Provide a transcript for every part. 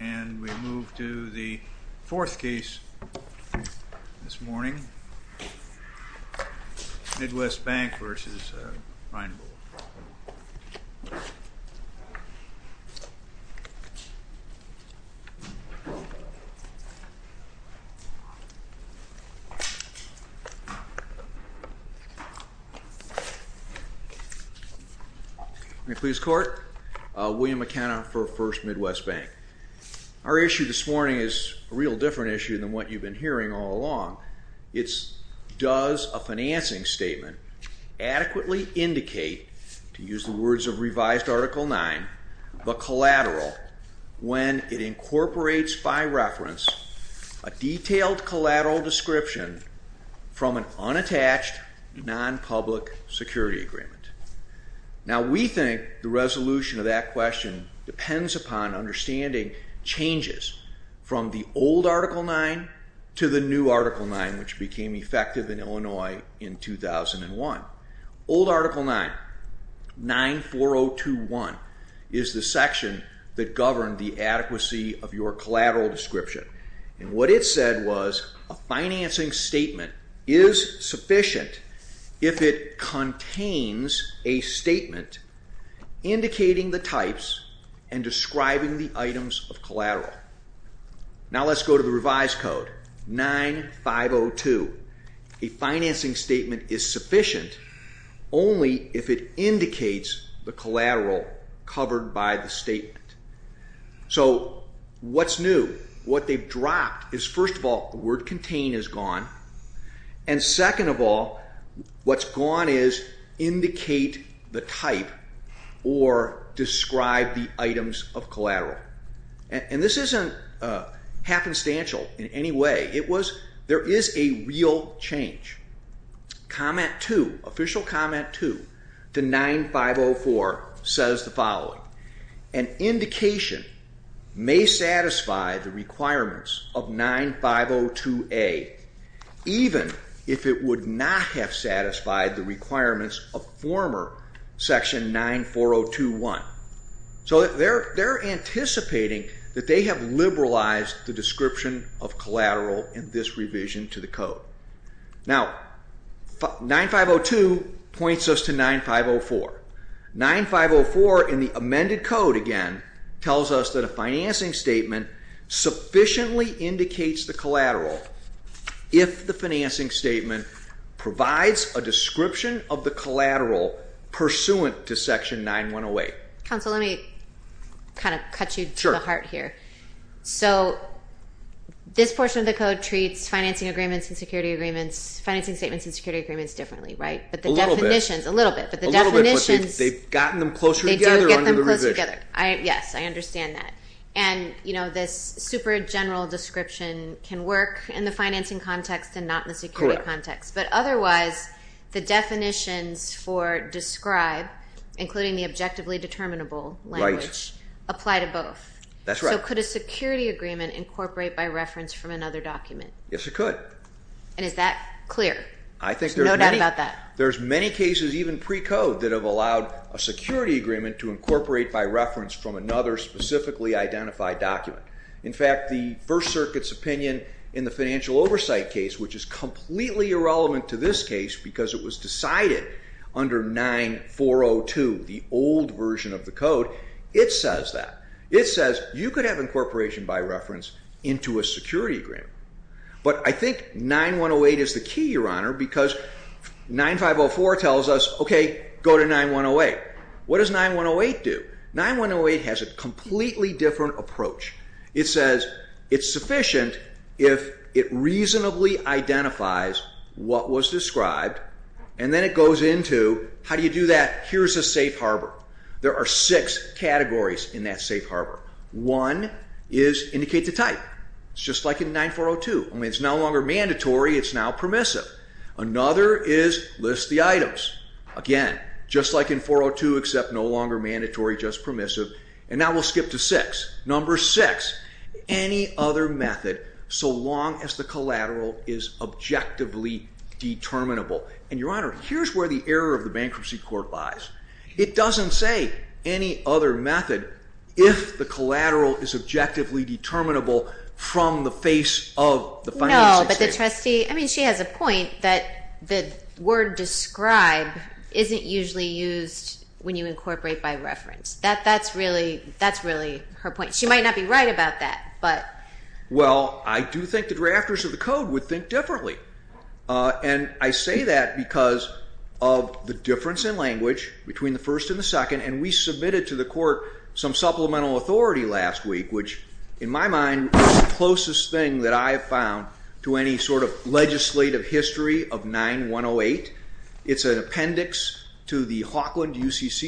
And we move to the fourth case this morning, Midwest Bank v. Reinbold May it please the court, William McKenna for First Midwest Bank. Our issue this morning is a real different issue than what you've been hearing all along. It's does a financing statement adequately indicate, to use the words of revised Article 9, the collateral when it incorporates by reference a detailed collateral description from an unattached non-public security agreement. Now we think the resolution of that question depends upon understanding changes from the old Article 9 to the new Article 9 which became effective in Illinois in 2001. Old Article 9, 94021 is the section that governed the adequacy of your collateral description. And what it said was a financing statement is sufficient if it contains a statement indicating the types and describing the items of collateral. Now let's go to the revised Code 9502. A financing statement is sufficient only if it indicates the collateral covered by the statement. So what's new? What they've dropped is first of all the word contain is gone and second of all what's gone is indicate the is a real change. Comment 2, official comment 2 to 9504 says the following, an indication may satisfy the requirements of 9502A even if it would not have satisfied the requirements of former section 94021. So they're anticipating that they have liberalized the description of collateral in this revision to the Code. Now 9502 points us to 9504. 9504 in the amended Code again tells us that a financing statement sufficiently indicates the collateral if the pursuant to section 9108. Counselor let me kind of cut you to the heart here. So this portion of the Code treats financing agreements and security agreements, financing statements and security agreements differently right? A little bit. But the definitions, they've gotten them closer together under the revision. Yes I understand that. And you know this super general description can work in the financing context and not in the security context. But otherwise the definitions for describe including the objectively determinable language apply to both. That's right. So could a security agreement incorporate by reference from another document? Yes it could. And is that clear? There's no doubt about that. There's many cases even pre-Code that have allowed a security agreement to incorporate by reference from another specifically identified document. In fact the First Circuit's opinion in the to this case because it was decided under 9402, the old version of the Code, it says that. It says you could have incorporation by reference into a security agreement. But I think 9108 is the key Your Honor because 9504 tells us okay go to 9108. What does 9108 do? 9108 has a completely different approach. It says it's sufficient if it reasonably identifies what was described. And then it goes into how do you do that? Here's a safe harbor. There are six categories in that safe harbor. One is indicate the type. It's just like in 9402. I mean it's no longer mandatory, it's now permissive. Another is list the items. Again just like in 402 except no longer mandatory just permissive. And now we'll skip to six. Number six, any other method so long as the collateral is objectively determinable. And Your Honor here's where the error of the Bankruptcy Court lies. It doesn't say any other method if the collateral is objectively determinable from the face of the financial institution. No, but the trustee, I mean she has a point that the word describe isn't usually used when you incorporate by reference. That's really her point. She might not be right about that. Well I do think the drafters of the code would think differently. And I say that because of the difference in language between the first and the second and we submitted to the court some supplemental authority last week which in my mind is the closest thing that I have found to any sort of legislative history of 9108. It's an appendix to the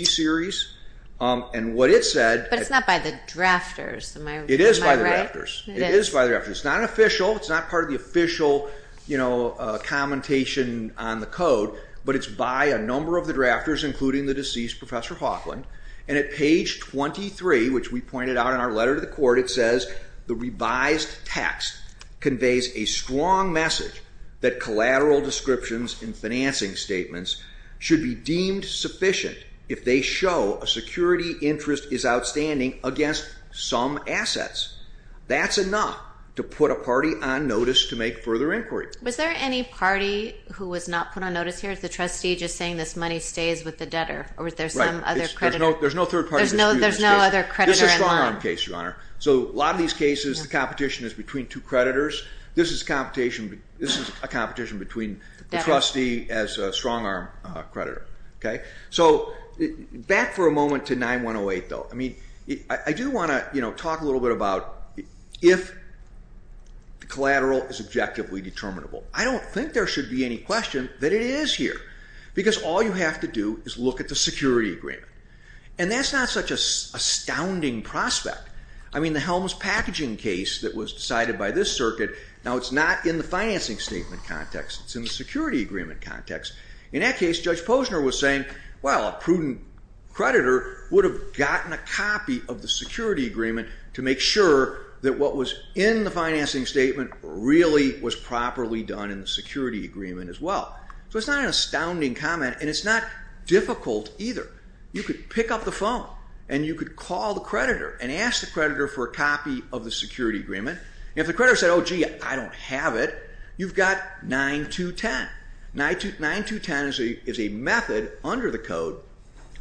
series and what it said. But it's not by the drafters, am I right? It is by the drafters. It is by the drafters. It's not official, it's not part of the official, you know, commentation on the code but it's by a number of the drafters including the deceased Professor Hawkland. And at page 23 which we pointed out in our letter to the court it says the revised text conveys a strong message that collateral descriptions in financing statements should be deemed sufficient if they show a security interest is outstanding against some assets. That's enough to put a party on notice to make further inquiry. Was there any party who was not put on notice here? Is the trustee just saying this money stays with the debtor or is there some other creditor? There's no third party. There's no other creditor in line. This is a strong arm case, Your Honor. So a lot of these cases the competition is between two creditors. This is a competition between the trustee as a strong arm creditor. So back for a moment to 9108 though. I do want to talk a little bit about if collateral is objectively determinable. I don't think there should be any question that it is here because all you have to do is look at the security agreement. And that's not such an astounding prospect. I mean the Helms packaging case that was decided by this circuit, now it's not in the financing statement context, it's in the security agreement context. In that case, Judge Posner was saying, well a prudent creditor would have gotten a copy of the security agreement to make sure that what was in the financing statement really was properly done in the security agreement as well. So it's not an astounding comment and it's not difficult either. You could pick up the phone and you could call the creditor and ask the creditor for a copy of the security agreement. If the creditor said, oh gee, I don't have it, you've got 9-2-10. 9-2-10 is a method under the code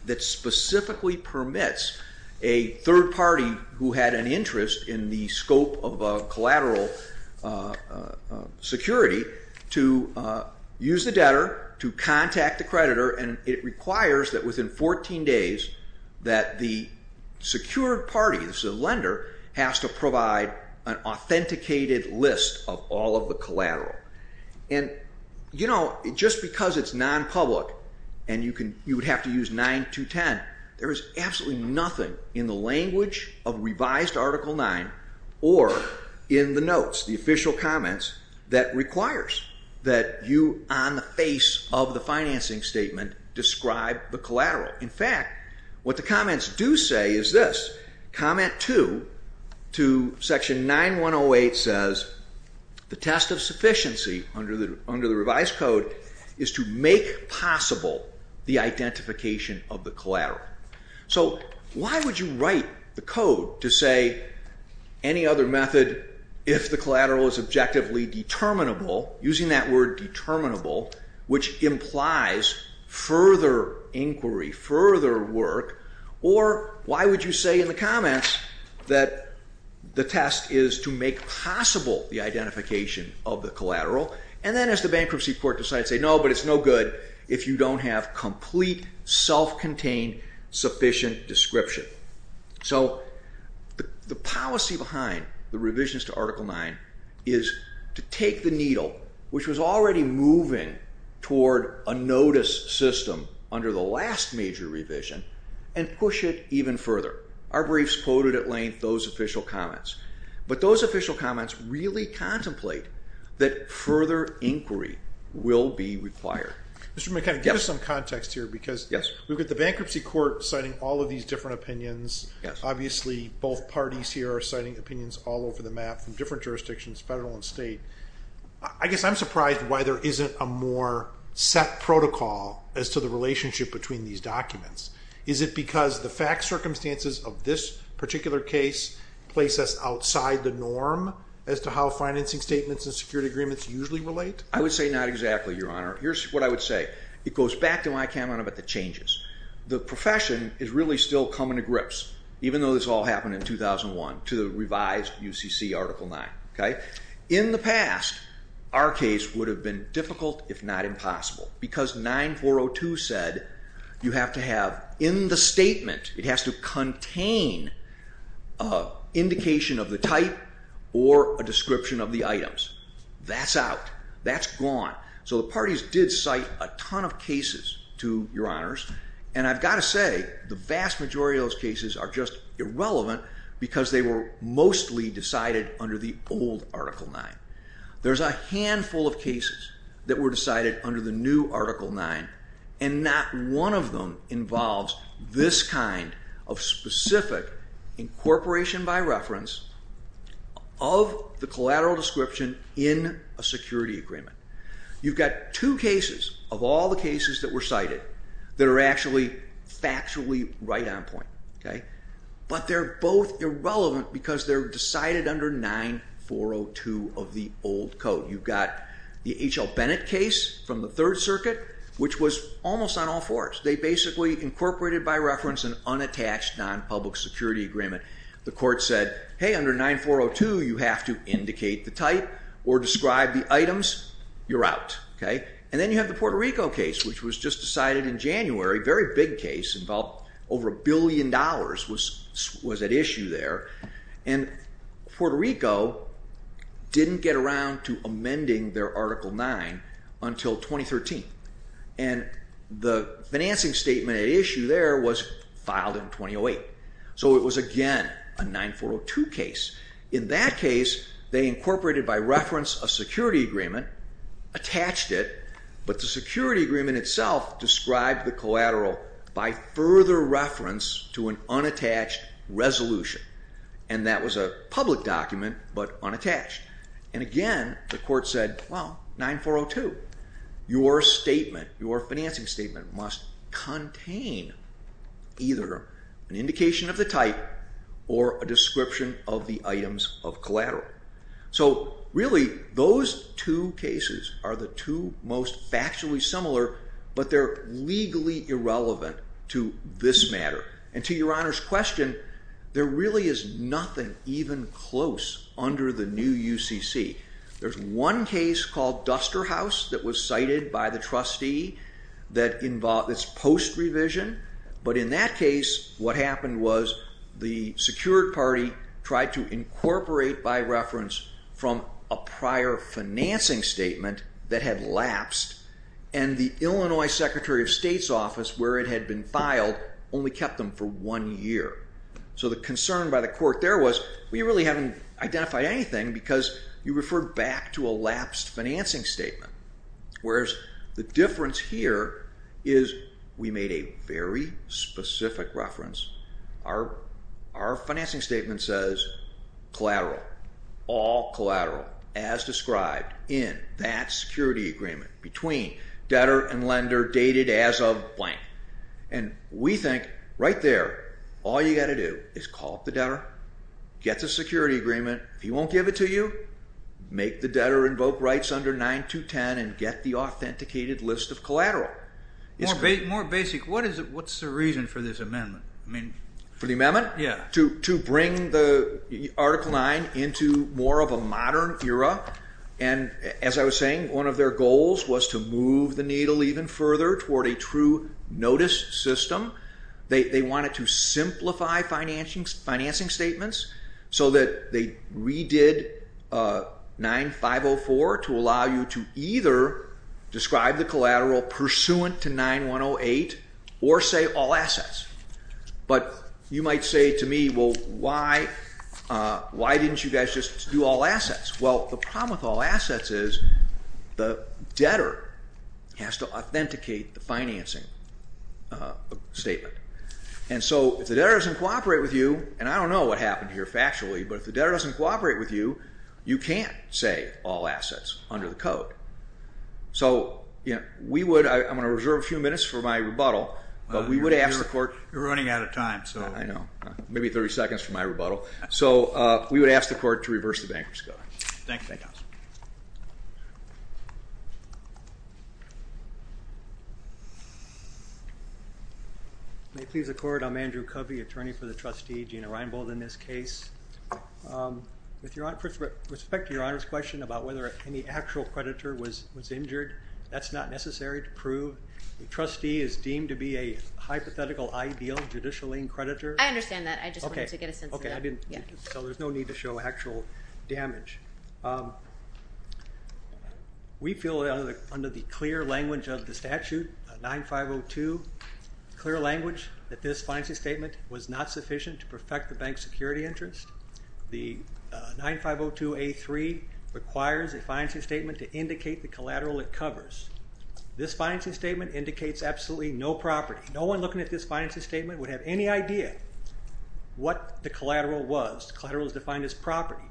that specifically permits a third party who had an interest in the scope of collateral security to use the debtor to contact the creditor and it requires that within 14 days that the secured party, the lender, has to provide an authenticated list of all of the collateral. And you know, just because it's non-public and you would have to use 9-2-10, there is absolutely nothing in the language of revised Article 9 or in the notes, the official comments, that requires that you on the face of the financing statement describe the collateral. In fact, what the comments do say is this, comment 2 to section 9-1-08 says, the test of sufficiency under the revised code is to make possible the identification of the collateral. So why would you write the code to say any other method if the collateral is objectively determinable, using that word determinable, which implies further inquiry, further work, or why would you say in the comments that the test is to make possible the identification of the collateral, and then as the bankruptcy court decides, say no, but it's no good if you don't have complete, self-contained, sufficient description. So the policy behind the revisions to Article 9 is to take the needle, which was already moving toward a notice system under the last major revision, and push it even further. Our briefs quoted at length those official comments, but those official comments really contemplate that further inquiry will be required. Mr. McKenna, give us some context here because we've got the bankruptcy court citing all of these different opinions, obviously both parties here are citing opinions all over the map from different jurisdictions, federal and state. I guess I'm surprised why there isn't a more set protocol as to the relationship between these documents. Is it because the fact circumstances of this particular case place us outside the norm as to how financing statements and security agreements usually relate? I would say not exactly, Your Honor. Here's what I would say. It goes back to my comment about the changes. The profession is really still coming to grips, even though this all happened in 2001, to the revised UCC Article 9. In the past, our case would have been difficult if not impossible because 9402 said you have to have in the statement, it has to contain indication of the type or a description of the items. That's out. That's gone. So the parties did cite a ton of cases to Your Honors, and I've got to say the vast majority of those cases are just irrelevant because they were mostly decided under the old Article 9. There's a handful of cases that were decided under the new Article 9, and not one of them involves this kind of specific incorporation by reference of the collateral description in a security agreement. You've got two cases of all the cases that were cited that are actually factually right on point, but they're both irrelevant because they're decided under 9402 of the old code. You've got the H.L. Bennett case from the Third Circuit, which was almost on all fours. They basically incorporated by reference an unattached non-public security agreement. The court said, hey, under 9402, you have to indicate the type or describe the items. You're out. And then you have the Puerto Rico case, which was just decided in January. Very big case, involved over a billion dollars was at issue there, and Puerto Rico didn't get around to amending their Article 9 until 2013, and the financing statement at issue there was filed in 2008. So it was again a 9402 case. In that case, they incorporated by reference a security agreement, attached it, but the security agreement itself described the collateral by further reference to an unattached resolution, and that was a public document but unattached. And again, the court said, well, 9402, your statement, your either an indication of the type or a description of the items of collateral. So really, those two cases are the two most factually similar, but they're legally irrelevant to this matter. And to your Honor's question, there really is nothing even close under the new UCC. There's one case called Duster House that was cited by the trustee that involves post revision, but in that case, what happened was the secured party tried to incorporate by reference from a prior financing statement that had lapsed, and the Illinois Secretary of State's office, where it had been filed, only kept them for one year. So the concern by the court there was, we really haven't identified anything because you referred back to a lapsed financing statement, whereas the difference here is we made a very specific reference. Our financing statement says collateral, all collateral, as described in that security agreement between debtor and lender dated as of blank. And we think, right there, all the debtor gets a security agreement. If he won't give it to you, make the debtor invoke rights under 9 to 10 and get the authenticated list of collateral. More basic, what's the reason for this amendment? For the amendment? To bring the Article 9 into more of a modern era, and as I was saying, one of their goals was to move the needle even further toward a true notice system. They wanted to simplify financing statements so that they redid 9.504 to allow you to either describe the collateral pursuant to 9.108 or say all assets. But you might say to me, well, why didn't you guys just do all assets? Well, the problem with all assets is the debtor has to authenticate the financing statement. And so if the debtor doesn't cooperate with you, and I don't know what happened here factually, but if the debtor doesn't cooperate with you, you can't say all assets under the code. So we would, I'm going to reserve a few minutes for my rebuttal, but we would ask the court. You're running out of time. I know. Maybe 30 seconds for my rebuttal. So we would ask the court to reverse the bankers' code. Thank you. May it please the court, I'm Andrew Covey, attorney for the trustee, Gina Reinbold in this case. With respect to your Honor's question about whether any actual creditor was injured, that's not necessary to prove. The trustee is deemed to be a hypothetical ideal judicially creditor. I understand that. I just wanted to get a sense of that. So there's no need to show actual damage. We feel under the clear language of the statute, 9502, clear language that this financing statement was not sufficient to perfect the bank's security interest. The 9502A3 requires a financing statement to indicate the collateral it covers. This financing statement indicates absolutely no property. No one looking at this financing statement would have any idea what the collateral was. Collateral is defined as property.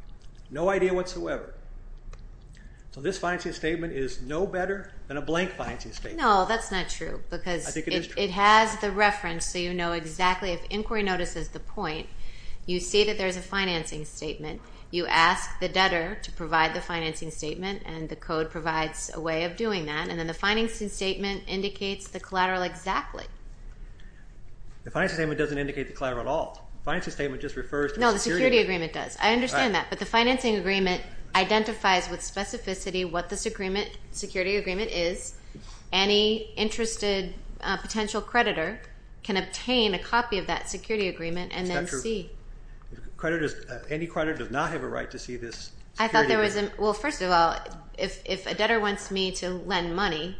No idea whatsoever. So this financing statement is no better than a blank financing statement. No, that's not true because it has the reference so you know exactly if inquiry notices the point. You see that there's a financing statement. You ask the debtor to provide the financing statement and the code provides a way of doing that. And then the financing statement indicates the collateral exactly. The financing statement doesn't indicate the collateral at all. The financing statement just refers to the security agreement. No, the security agreement does. I understand that. But the financing agreement identifies with specificity what this security agreement is. Any interested potential creditor can obtain a copy of that security agreement and then see. That's not true. Any creditor does not have a right to see this security agreement. Well, first of all, if a debtor wants me to lend money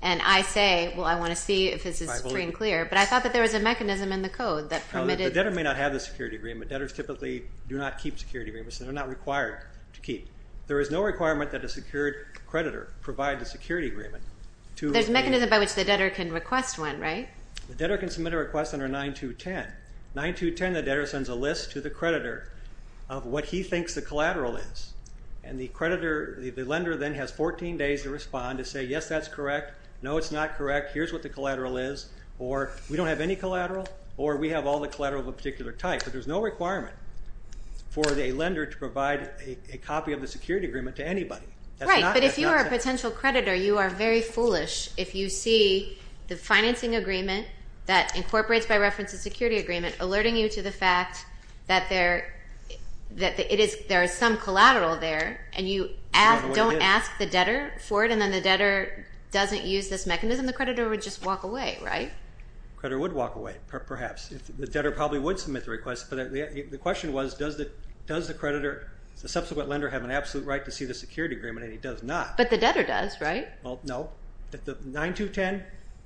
and I say, well, I want to see if this is free and clear, but I thought that there was a mechanism in the code that permitted. The debtor may not have the security agreement. Debtors typically do not keep security agreements. They're not required to keep. There is no requirement that a secured creditor provide the security agreement. There's a mechanism by which the debtor can request one, right? The debtor can submit a request under 9-2-10. 9-2-10, the debtor sends a list to the creditor of what he thinks the collateral is. And the creditor, the lender then has 14 days to respond to say, yes, that's correct. No, it's not correct. Here's what the collateral is, or we don't have any collateral, or we have all the collateral of a particular type. But there's no requirement for a lender to provide a copy of the security agreement to anybody. Right, but if you are a potential creditor, you are very foolish if you see the financing agreement that incorporates, by reference, a security agreement alerting you to the fact that there is some collateral there, and you don't ask the debtor for it, and then the debtor doesn't use this mechanism, the creditor would just walk away, right? The creditor would walk away, perhaps. The debtor probably would submit the request. But the question was, does the creditor, the subsequent lender, have an absolute right to see the security agreement? And he does not. But the debtor does, right? Well, no. 9-2-10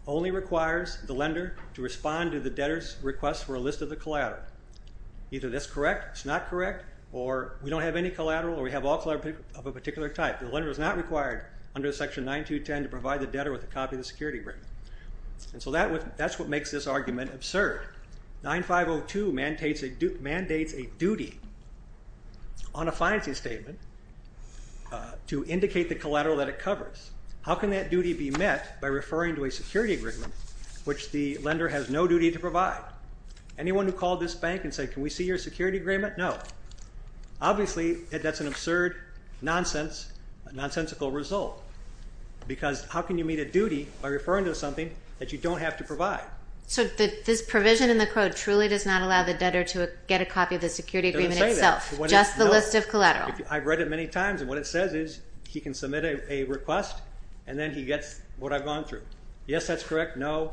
only requires the lender to respond to the debtor's request for a list of the collateral. Either that's correct, it's not correct, or we don't have any collateral, or we have all collateral of a particular type. The lender is not required under Section 9-2-10 to provide the debtor with a copy of the security agreement. And so that's what makes this argument absurd. 9-5-0-2 mandates a duty on a financing statement to indicate the collateral that it covers. How can that duty be met by referring to a security agreement which the lender has no duty to provide? Anyone who called this bank and said, can we see your security agreement? No. Obviously, that's an absurd, nonsensical result. Because how can you meet a duty by referring to something that you don't have to provide? So this provision in the code truly does not allow the debtor to get a copy of the security agreement itself? It doesn't say that. Just the list of collateral. I've read it many times, and what it says is he can submit a request, and then he gets what I've gone through. Yes, that's correct. No.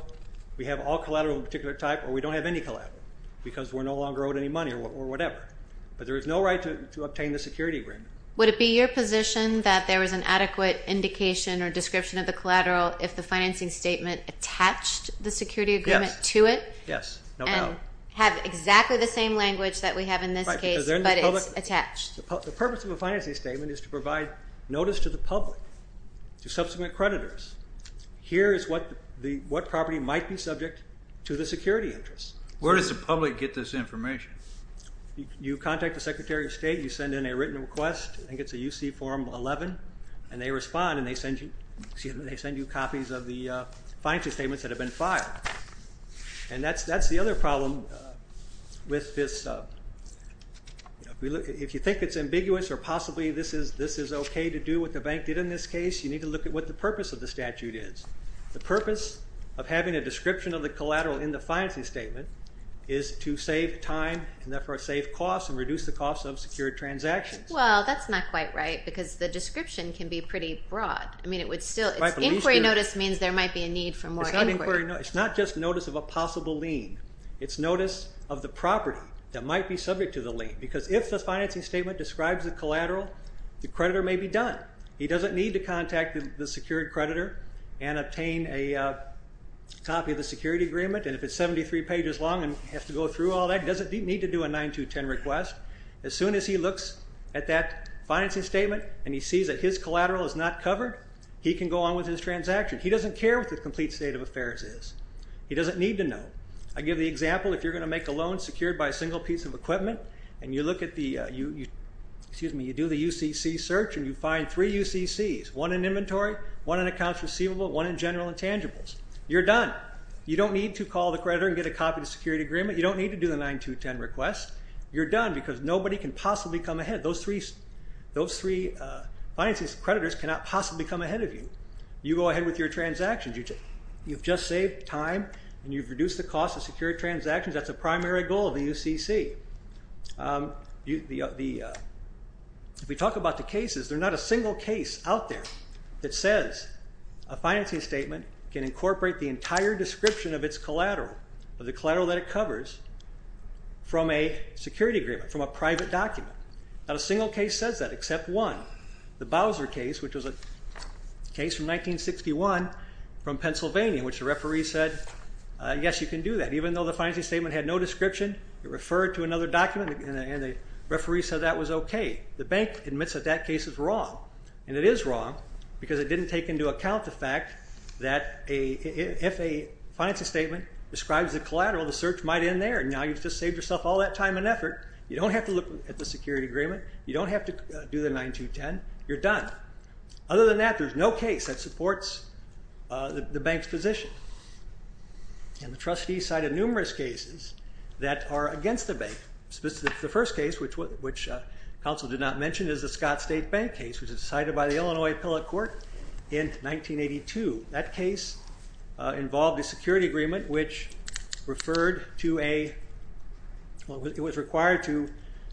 We have all collateral of a particular type, or we don't have any collateral because we're no longer owed any money or whatever. But there is no right to obtain the security agreement. Would it be your position that there was an adequate indication or description of the collateral if the financing statement attached the security agreement to it? Yes, no doubt. And have exactly the same language that we have in this case, but it's attached. The purpose of a financing statement is to provide notice to the public, to subsequent creditors. Here is what property might be subject to the security interest. Where does the public get this information? You contact the Secretary of State. You send in a written request. I think it's a UC Form 11, and they respond, and they send you copies of the financing statements that have been filed. And that's the other problem with this. If you think it's ambiguous or possibly this is okay to do what the bank did in this case, you need to look at what the purpose of the statute is. The purpose of having a description of the collateral in the financing statement is to save time and therefore save costs and reduce the costs of secured transactions. Well, that's not quite right because the description can be pretty broad. Inquiry notice means there might be a need for more inquiry. It's not just notice of a possible lien. It's notice of the property that might be subject to the lien because if the financing statement describes the collateral, the creditor may be done. He doesn't need to contact the secured creditor and obtain a copy of the security agreement. And if it's 73 pages long and has to go through all that, he doesn't need to do a 9-2-10 request. As soon as he looks at that financing statement and he sees that his collateral is not covered, he can go on with his transaction. He doesn't care what the complete state of affairs is. He doesn't need to know. I give the example if you're going to make a loan secured by a single piece of equipment and you do the UCC search and you find three UCCs, one in inventory, one in accounts receivable, one in general intangibles. You're done. You don't need to call the creditor and get a copy of the security agreement. You don't need to do the 9-2-10 request. You're done because nobody can possibly come ahead. Those three financing creditors cannot possibly come ahead of you. You go ahead with your transactions. You've just saved time and you've reduced the cost of secured transactions. That's the primary goal of the UCC. We talk about the cases. There's not a single case out there that says a financing statement can incorporate the entire description of its collateral, of the collateral that it covers, from a security agreement, from a private document. Not a single case says that except one, the Bowser case, which was a case from 1961 from Pennsylvania, in which the referee said, yes, you can do that, even though the financing statement had no description. It referred to another document and the referee said that was okay. The bank admits that that case is wrong. And it is wrong because it didn't take into account the fact that if a financing statement describes the collateral, the search might end there. Now you've just saved yourself all that time and effort. You don't have to look at the security agreement. You don't have to do the 9-2-10. You're done. Other than that, there's no case that supports the bank's position. And the trustees cited numerous cases that are against the bank. The first case, which counsel did not mention, is the Scott State Bank case, which was decided by the Illinois Appellate Court in 1982. That case involved a security agreement, which referred to a, well, it was required to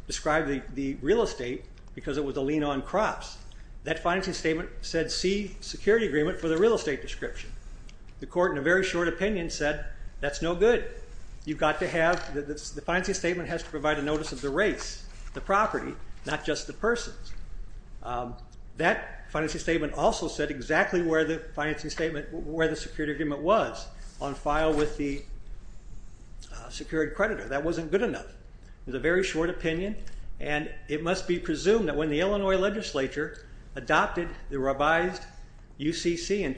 describe the real estate because it was a lien on crops. That financing statement said, see, security agreement for the real estate description. The court, in a very short opinion, said that's no good. You've got to have, the financing statement has to provide a notice of the race, the property, not just the person. That financing statement also said exactly where the financing statement, where the security agreement was, on file with the secured creditor. That wasn't good enough. It was a very short opinion. And it must be presumed that when the Illinois legislature adopted the Scott State Bank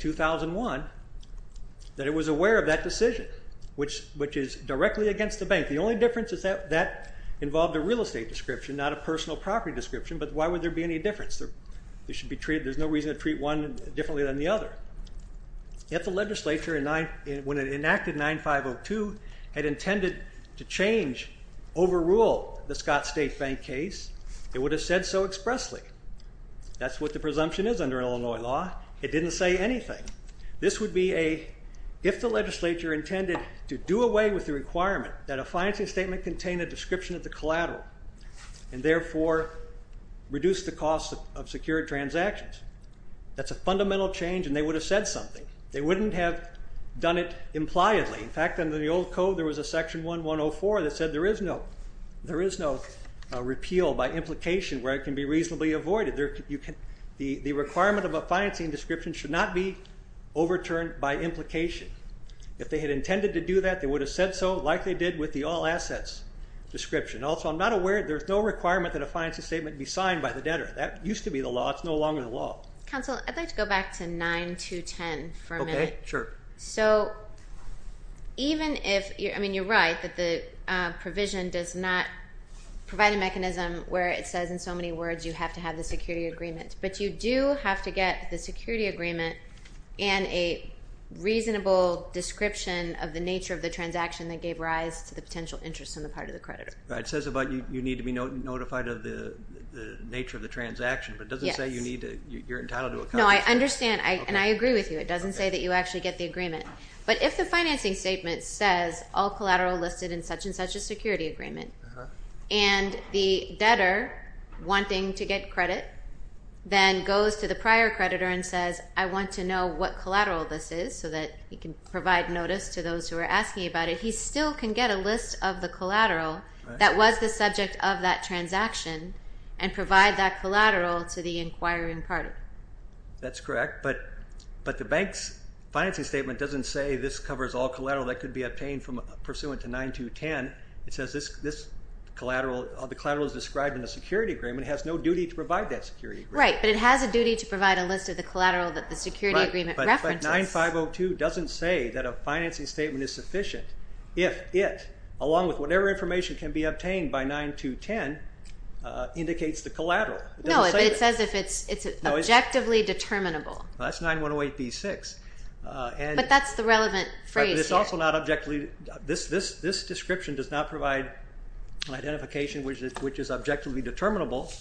case, that it was aware of that decision, which is directly against the bank. The only difference is that that involved a real estate description, not a personal property description, but why would there be any difference? They should be treated, there's no reason to treat one differently than the other. Yet the legislature, when it enacted 9502, had intended to change, overrule the Scott State Bank case, it would have said so expressly. That's what the presumption is under Illinois law. It didn't say anything. This would be if the legislature intended to do away with the requirement that a financing statement contain a description of the collateral and therefore reduce the cost of secured transactions. That's a fundamental change, and they would have said something. They wouldn't have done it impliedly. In fact, under the old code, there was a section 1104 that said there is no repeal by implication where it can be reasonably avoided. The requirement of a financing description should not be overturned by implication. If they had intended to do that, they would have said so like they did with the all assets description. Also, I'm not aware there's no requirement that a financing statement be signed by the debtor. That used to be the law. It's no longer the law. Counsel, I'd like to go back to 9210 for a minute. Okay, sure. So even if, I mean, you're right, that the provision does not provide a mechanism where it says in so many words you have to have the security agreement, but you do have to get the security agreement and a reasonable description of the nature of the transaction that gave rise to the potential interest on the part of the creditor. It says you need to be notified of the nature of the transaction, but it doesn't say you're entitled to a contract. No, I understand, and I agree with you. It doesn't say that you actually get the agreement. But if the financing statement says all collateral listed in such and such a security agreement and the debtor wanting to get credit then goes to the prior creditor and says, I want to know what collateral this is so that he can provide notice to those who are asking about it, he still can get a list of the collateral that was the subject of that transaction and provide that collateral to the inquiring party. That's correct, but the bank's financing statement doesn't say this covers all collateral that could be obtained pursuant to 9210. It says the collateral is described in a security agreement and has no duty to provide that security agreement. Right, but it has a duty to provide a list of the collateral that the security agreement references. But 9502 doesn't say that a financing statement is sufficient if it, along with whatever information can be obtained by 9210, indicates the collateral. No, but it says if it's objectively determinable. That's 9108b-6. But that's the relevant phrase here. This description does not provide an identification which is objectively determinable.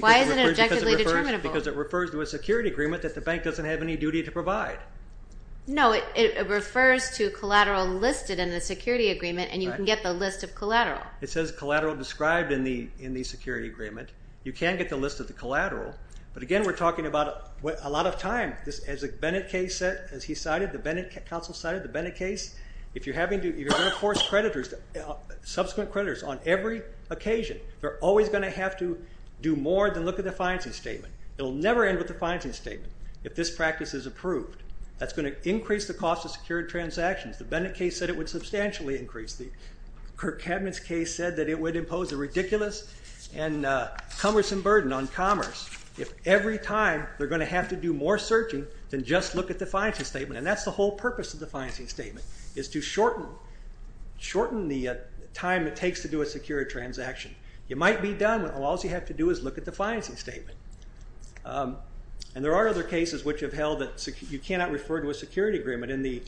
Why is it objectively determinable? Because it refers to a security agreement that the bank doesn't have any duty to provide. No, it refers to collateral listed in the security agreement, and you can get the list of collateral. It says collateral described in the security agreement. You can get the list of the collateral. But again, we're talking about a lot of time. In fact, as the Bennett case said, as he cited, the Bennett counsel cited the Bennett case, if you're going to force creditors, subsequent creditors on every occasion, they're always going to have to do more than look at the financing statement. It will never end with the financing statement if this practice is approved. That's going to increase the cost of secured transactions. The Bennett case said it would substantially increase. The Kirk Cabinets case said that it would impose a ridiculous and cumbersome burden on commerce if every time they're going to have to do more searching than just look at the financing statement. And that's the whole purpose of the financing statement is to shorten the time it takes to do a secured transaction. It might be done, but all you have to do is look at the financing statement. And there are other cases which have held that you cannot refer to a security agreement in the...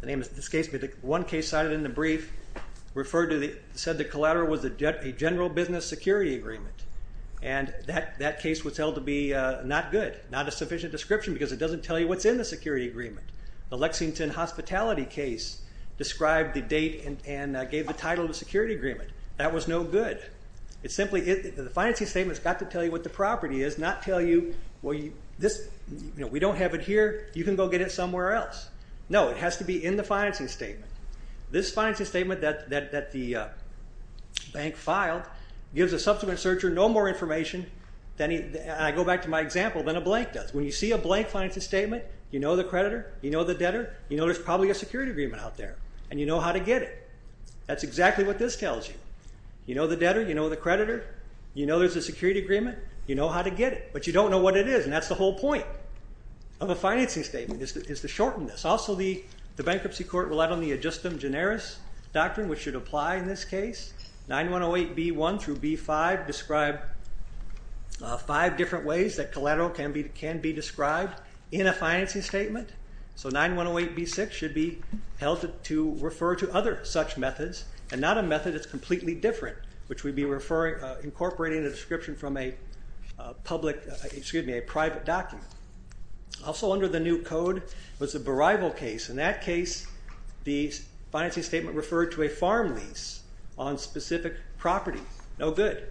The name of this case, but one case cited in the brief said the collateral was a general business security agreement. And that case was held to be not good, not a sufficient description because it doesn't tell you what's in the security agreement. The Lexington Hospitality case described the date and gave the title of the security agreement. That was no good. The financing statement's got to tell you what the property is, not tell you, well, we don't have it here. You can go get it somewhere else. No, it has to be in the financing statement. This financing statement that the bank filed gives a subsequent searcher no more information than... And I go back to my example, than a blank does. When you see a blank financing statement, you know the creditor, you know the debtor, you know there's probably a security agreement out there, and you know how to get it. That's exactly what this tells you. You know the debtor, you know the creditor, you know there's a security agreement, you know how to get it. But you don't know what it is, and that's the whole point of a financing statement is to shorten this. Also, the bankruptcy court relied on the ad justem generis doctrine, which should apply in this case. 9108B1 through B5 describe five different ways that collateral can be described in a financing statement. So 9108B6 should be held to refer to other such methods, and not a method that's completely different, which we'd be incorporating a description from a public... Excuse me, a private document. Also under the new code was a berival case. In that case, the financing statement referred to a farm lease on specific property. No good.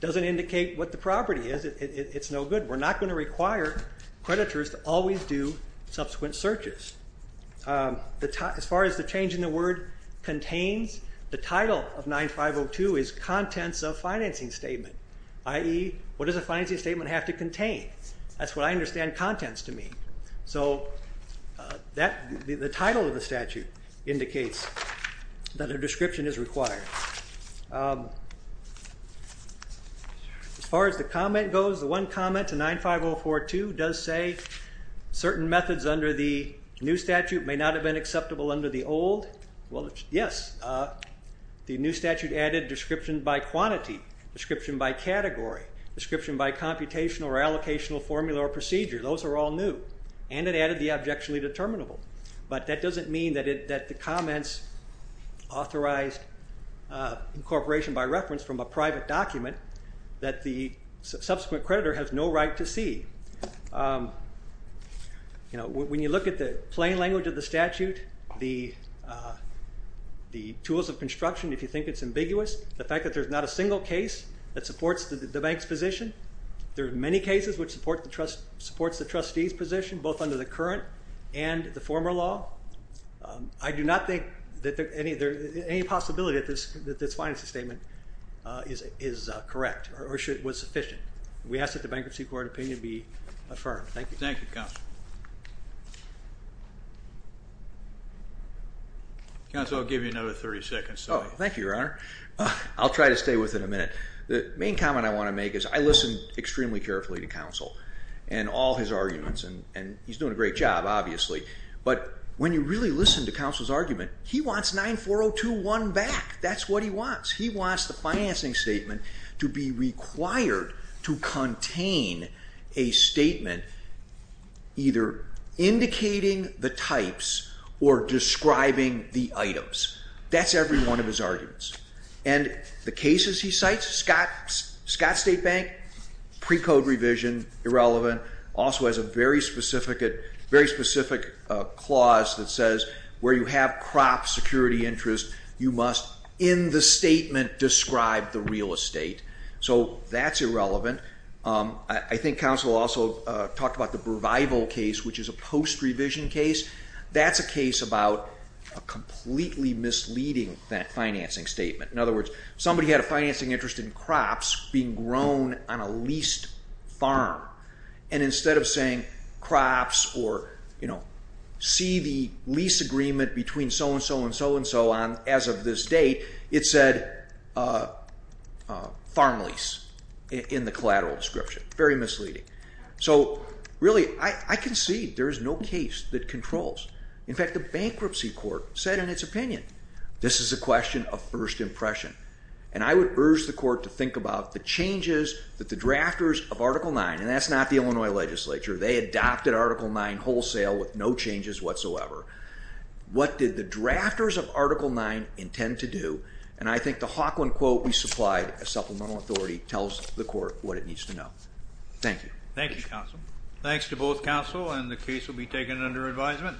Doesn't indicate what the property is. It's no good. We're not going to require creditors to always do subsequent searches. As far as the change in the word contains, the title of 9502 is contents of financing statement, i.e., what does a financing statement have to contain? That's what I understand contents to mean. So the title of the statute indicates that a description is required. As far as the comment goes, the one comment to 95042 does say certain methods under the new statute may not have been acceptable under the old. Well, yes. The new statute added description by quantity, description by category, description by computational or allocational formula or procedure. Those are all new. And it added the objectionably determinable. But that doesn't mean that the comments authorized incorporation by reference from a private document that the subsequent creditor has no right to see. When you look at the plain language of the statute, the tools of construction, if you think it's ambiguous, the fact that there's not a single case that supports the bank's position, there are many cases which support the trustee's position, both under the current and the former law. I do not think that there's any possibility that this financing statement is correct or was sufficient. We ask that the bankruptcy court opinion be affirmed. Thank you. Thank you, Counsel. Counsel, I'll give you another 30 seconds. Oh, thank you, Your Honor. I'll try to stay within a minute. The main comment I want to make is I listened extremely carefully to Counsel and all his arguments, and he's doing a great job, obviously. But when you really listen to Counsel's argument, he wants 9402.1 back. That's what he wants. He wants the financing statement to be required to contain a statement either indicating the types or describing the items. That's every one of his arguments. And the cases he cites, Scott State Bank, pre-code revision, irrelevant, also has a very specific clause that says where you have crop security interest, you must in the statement describe the real estate. So that's irrelevant. I think Counsel also talked about the Brevival case, which is a post-revision case. That's a case about a completely misleading financing statement. In other words, somebody had a financing interest in crops being grown on a leased farm, and instead of saying crops or, you know, see the lease agreement between so-and-so and so-and-so as of this date, it said farm lease in the collateral description. Very misleading. So, really, I concede there is no case that controls. In fact, the bankruptcy court said in its opinion, this is a question of first impression. And I would urge the court to think about the changes that the drafters of Article 9, and that's not the Illinois legislature. They adopted Article 9 wholesale with no changes whatsoever. What did the drafters of Article 9 intend to do? And I think the Hawkland quote we supplied as supplemental authority tells the court what it needs to know. Thank you. Thank you, counsel. Thanks to both counsel, and the case will be taken under advisement.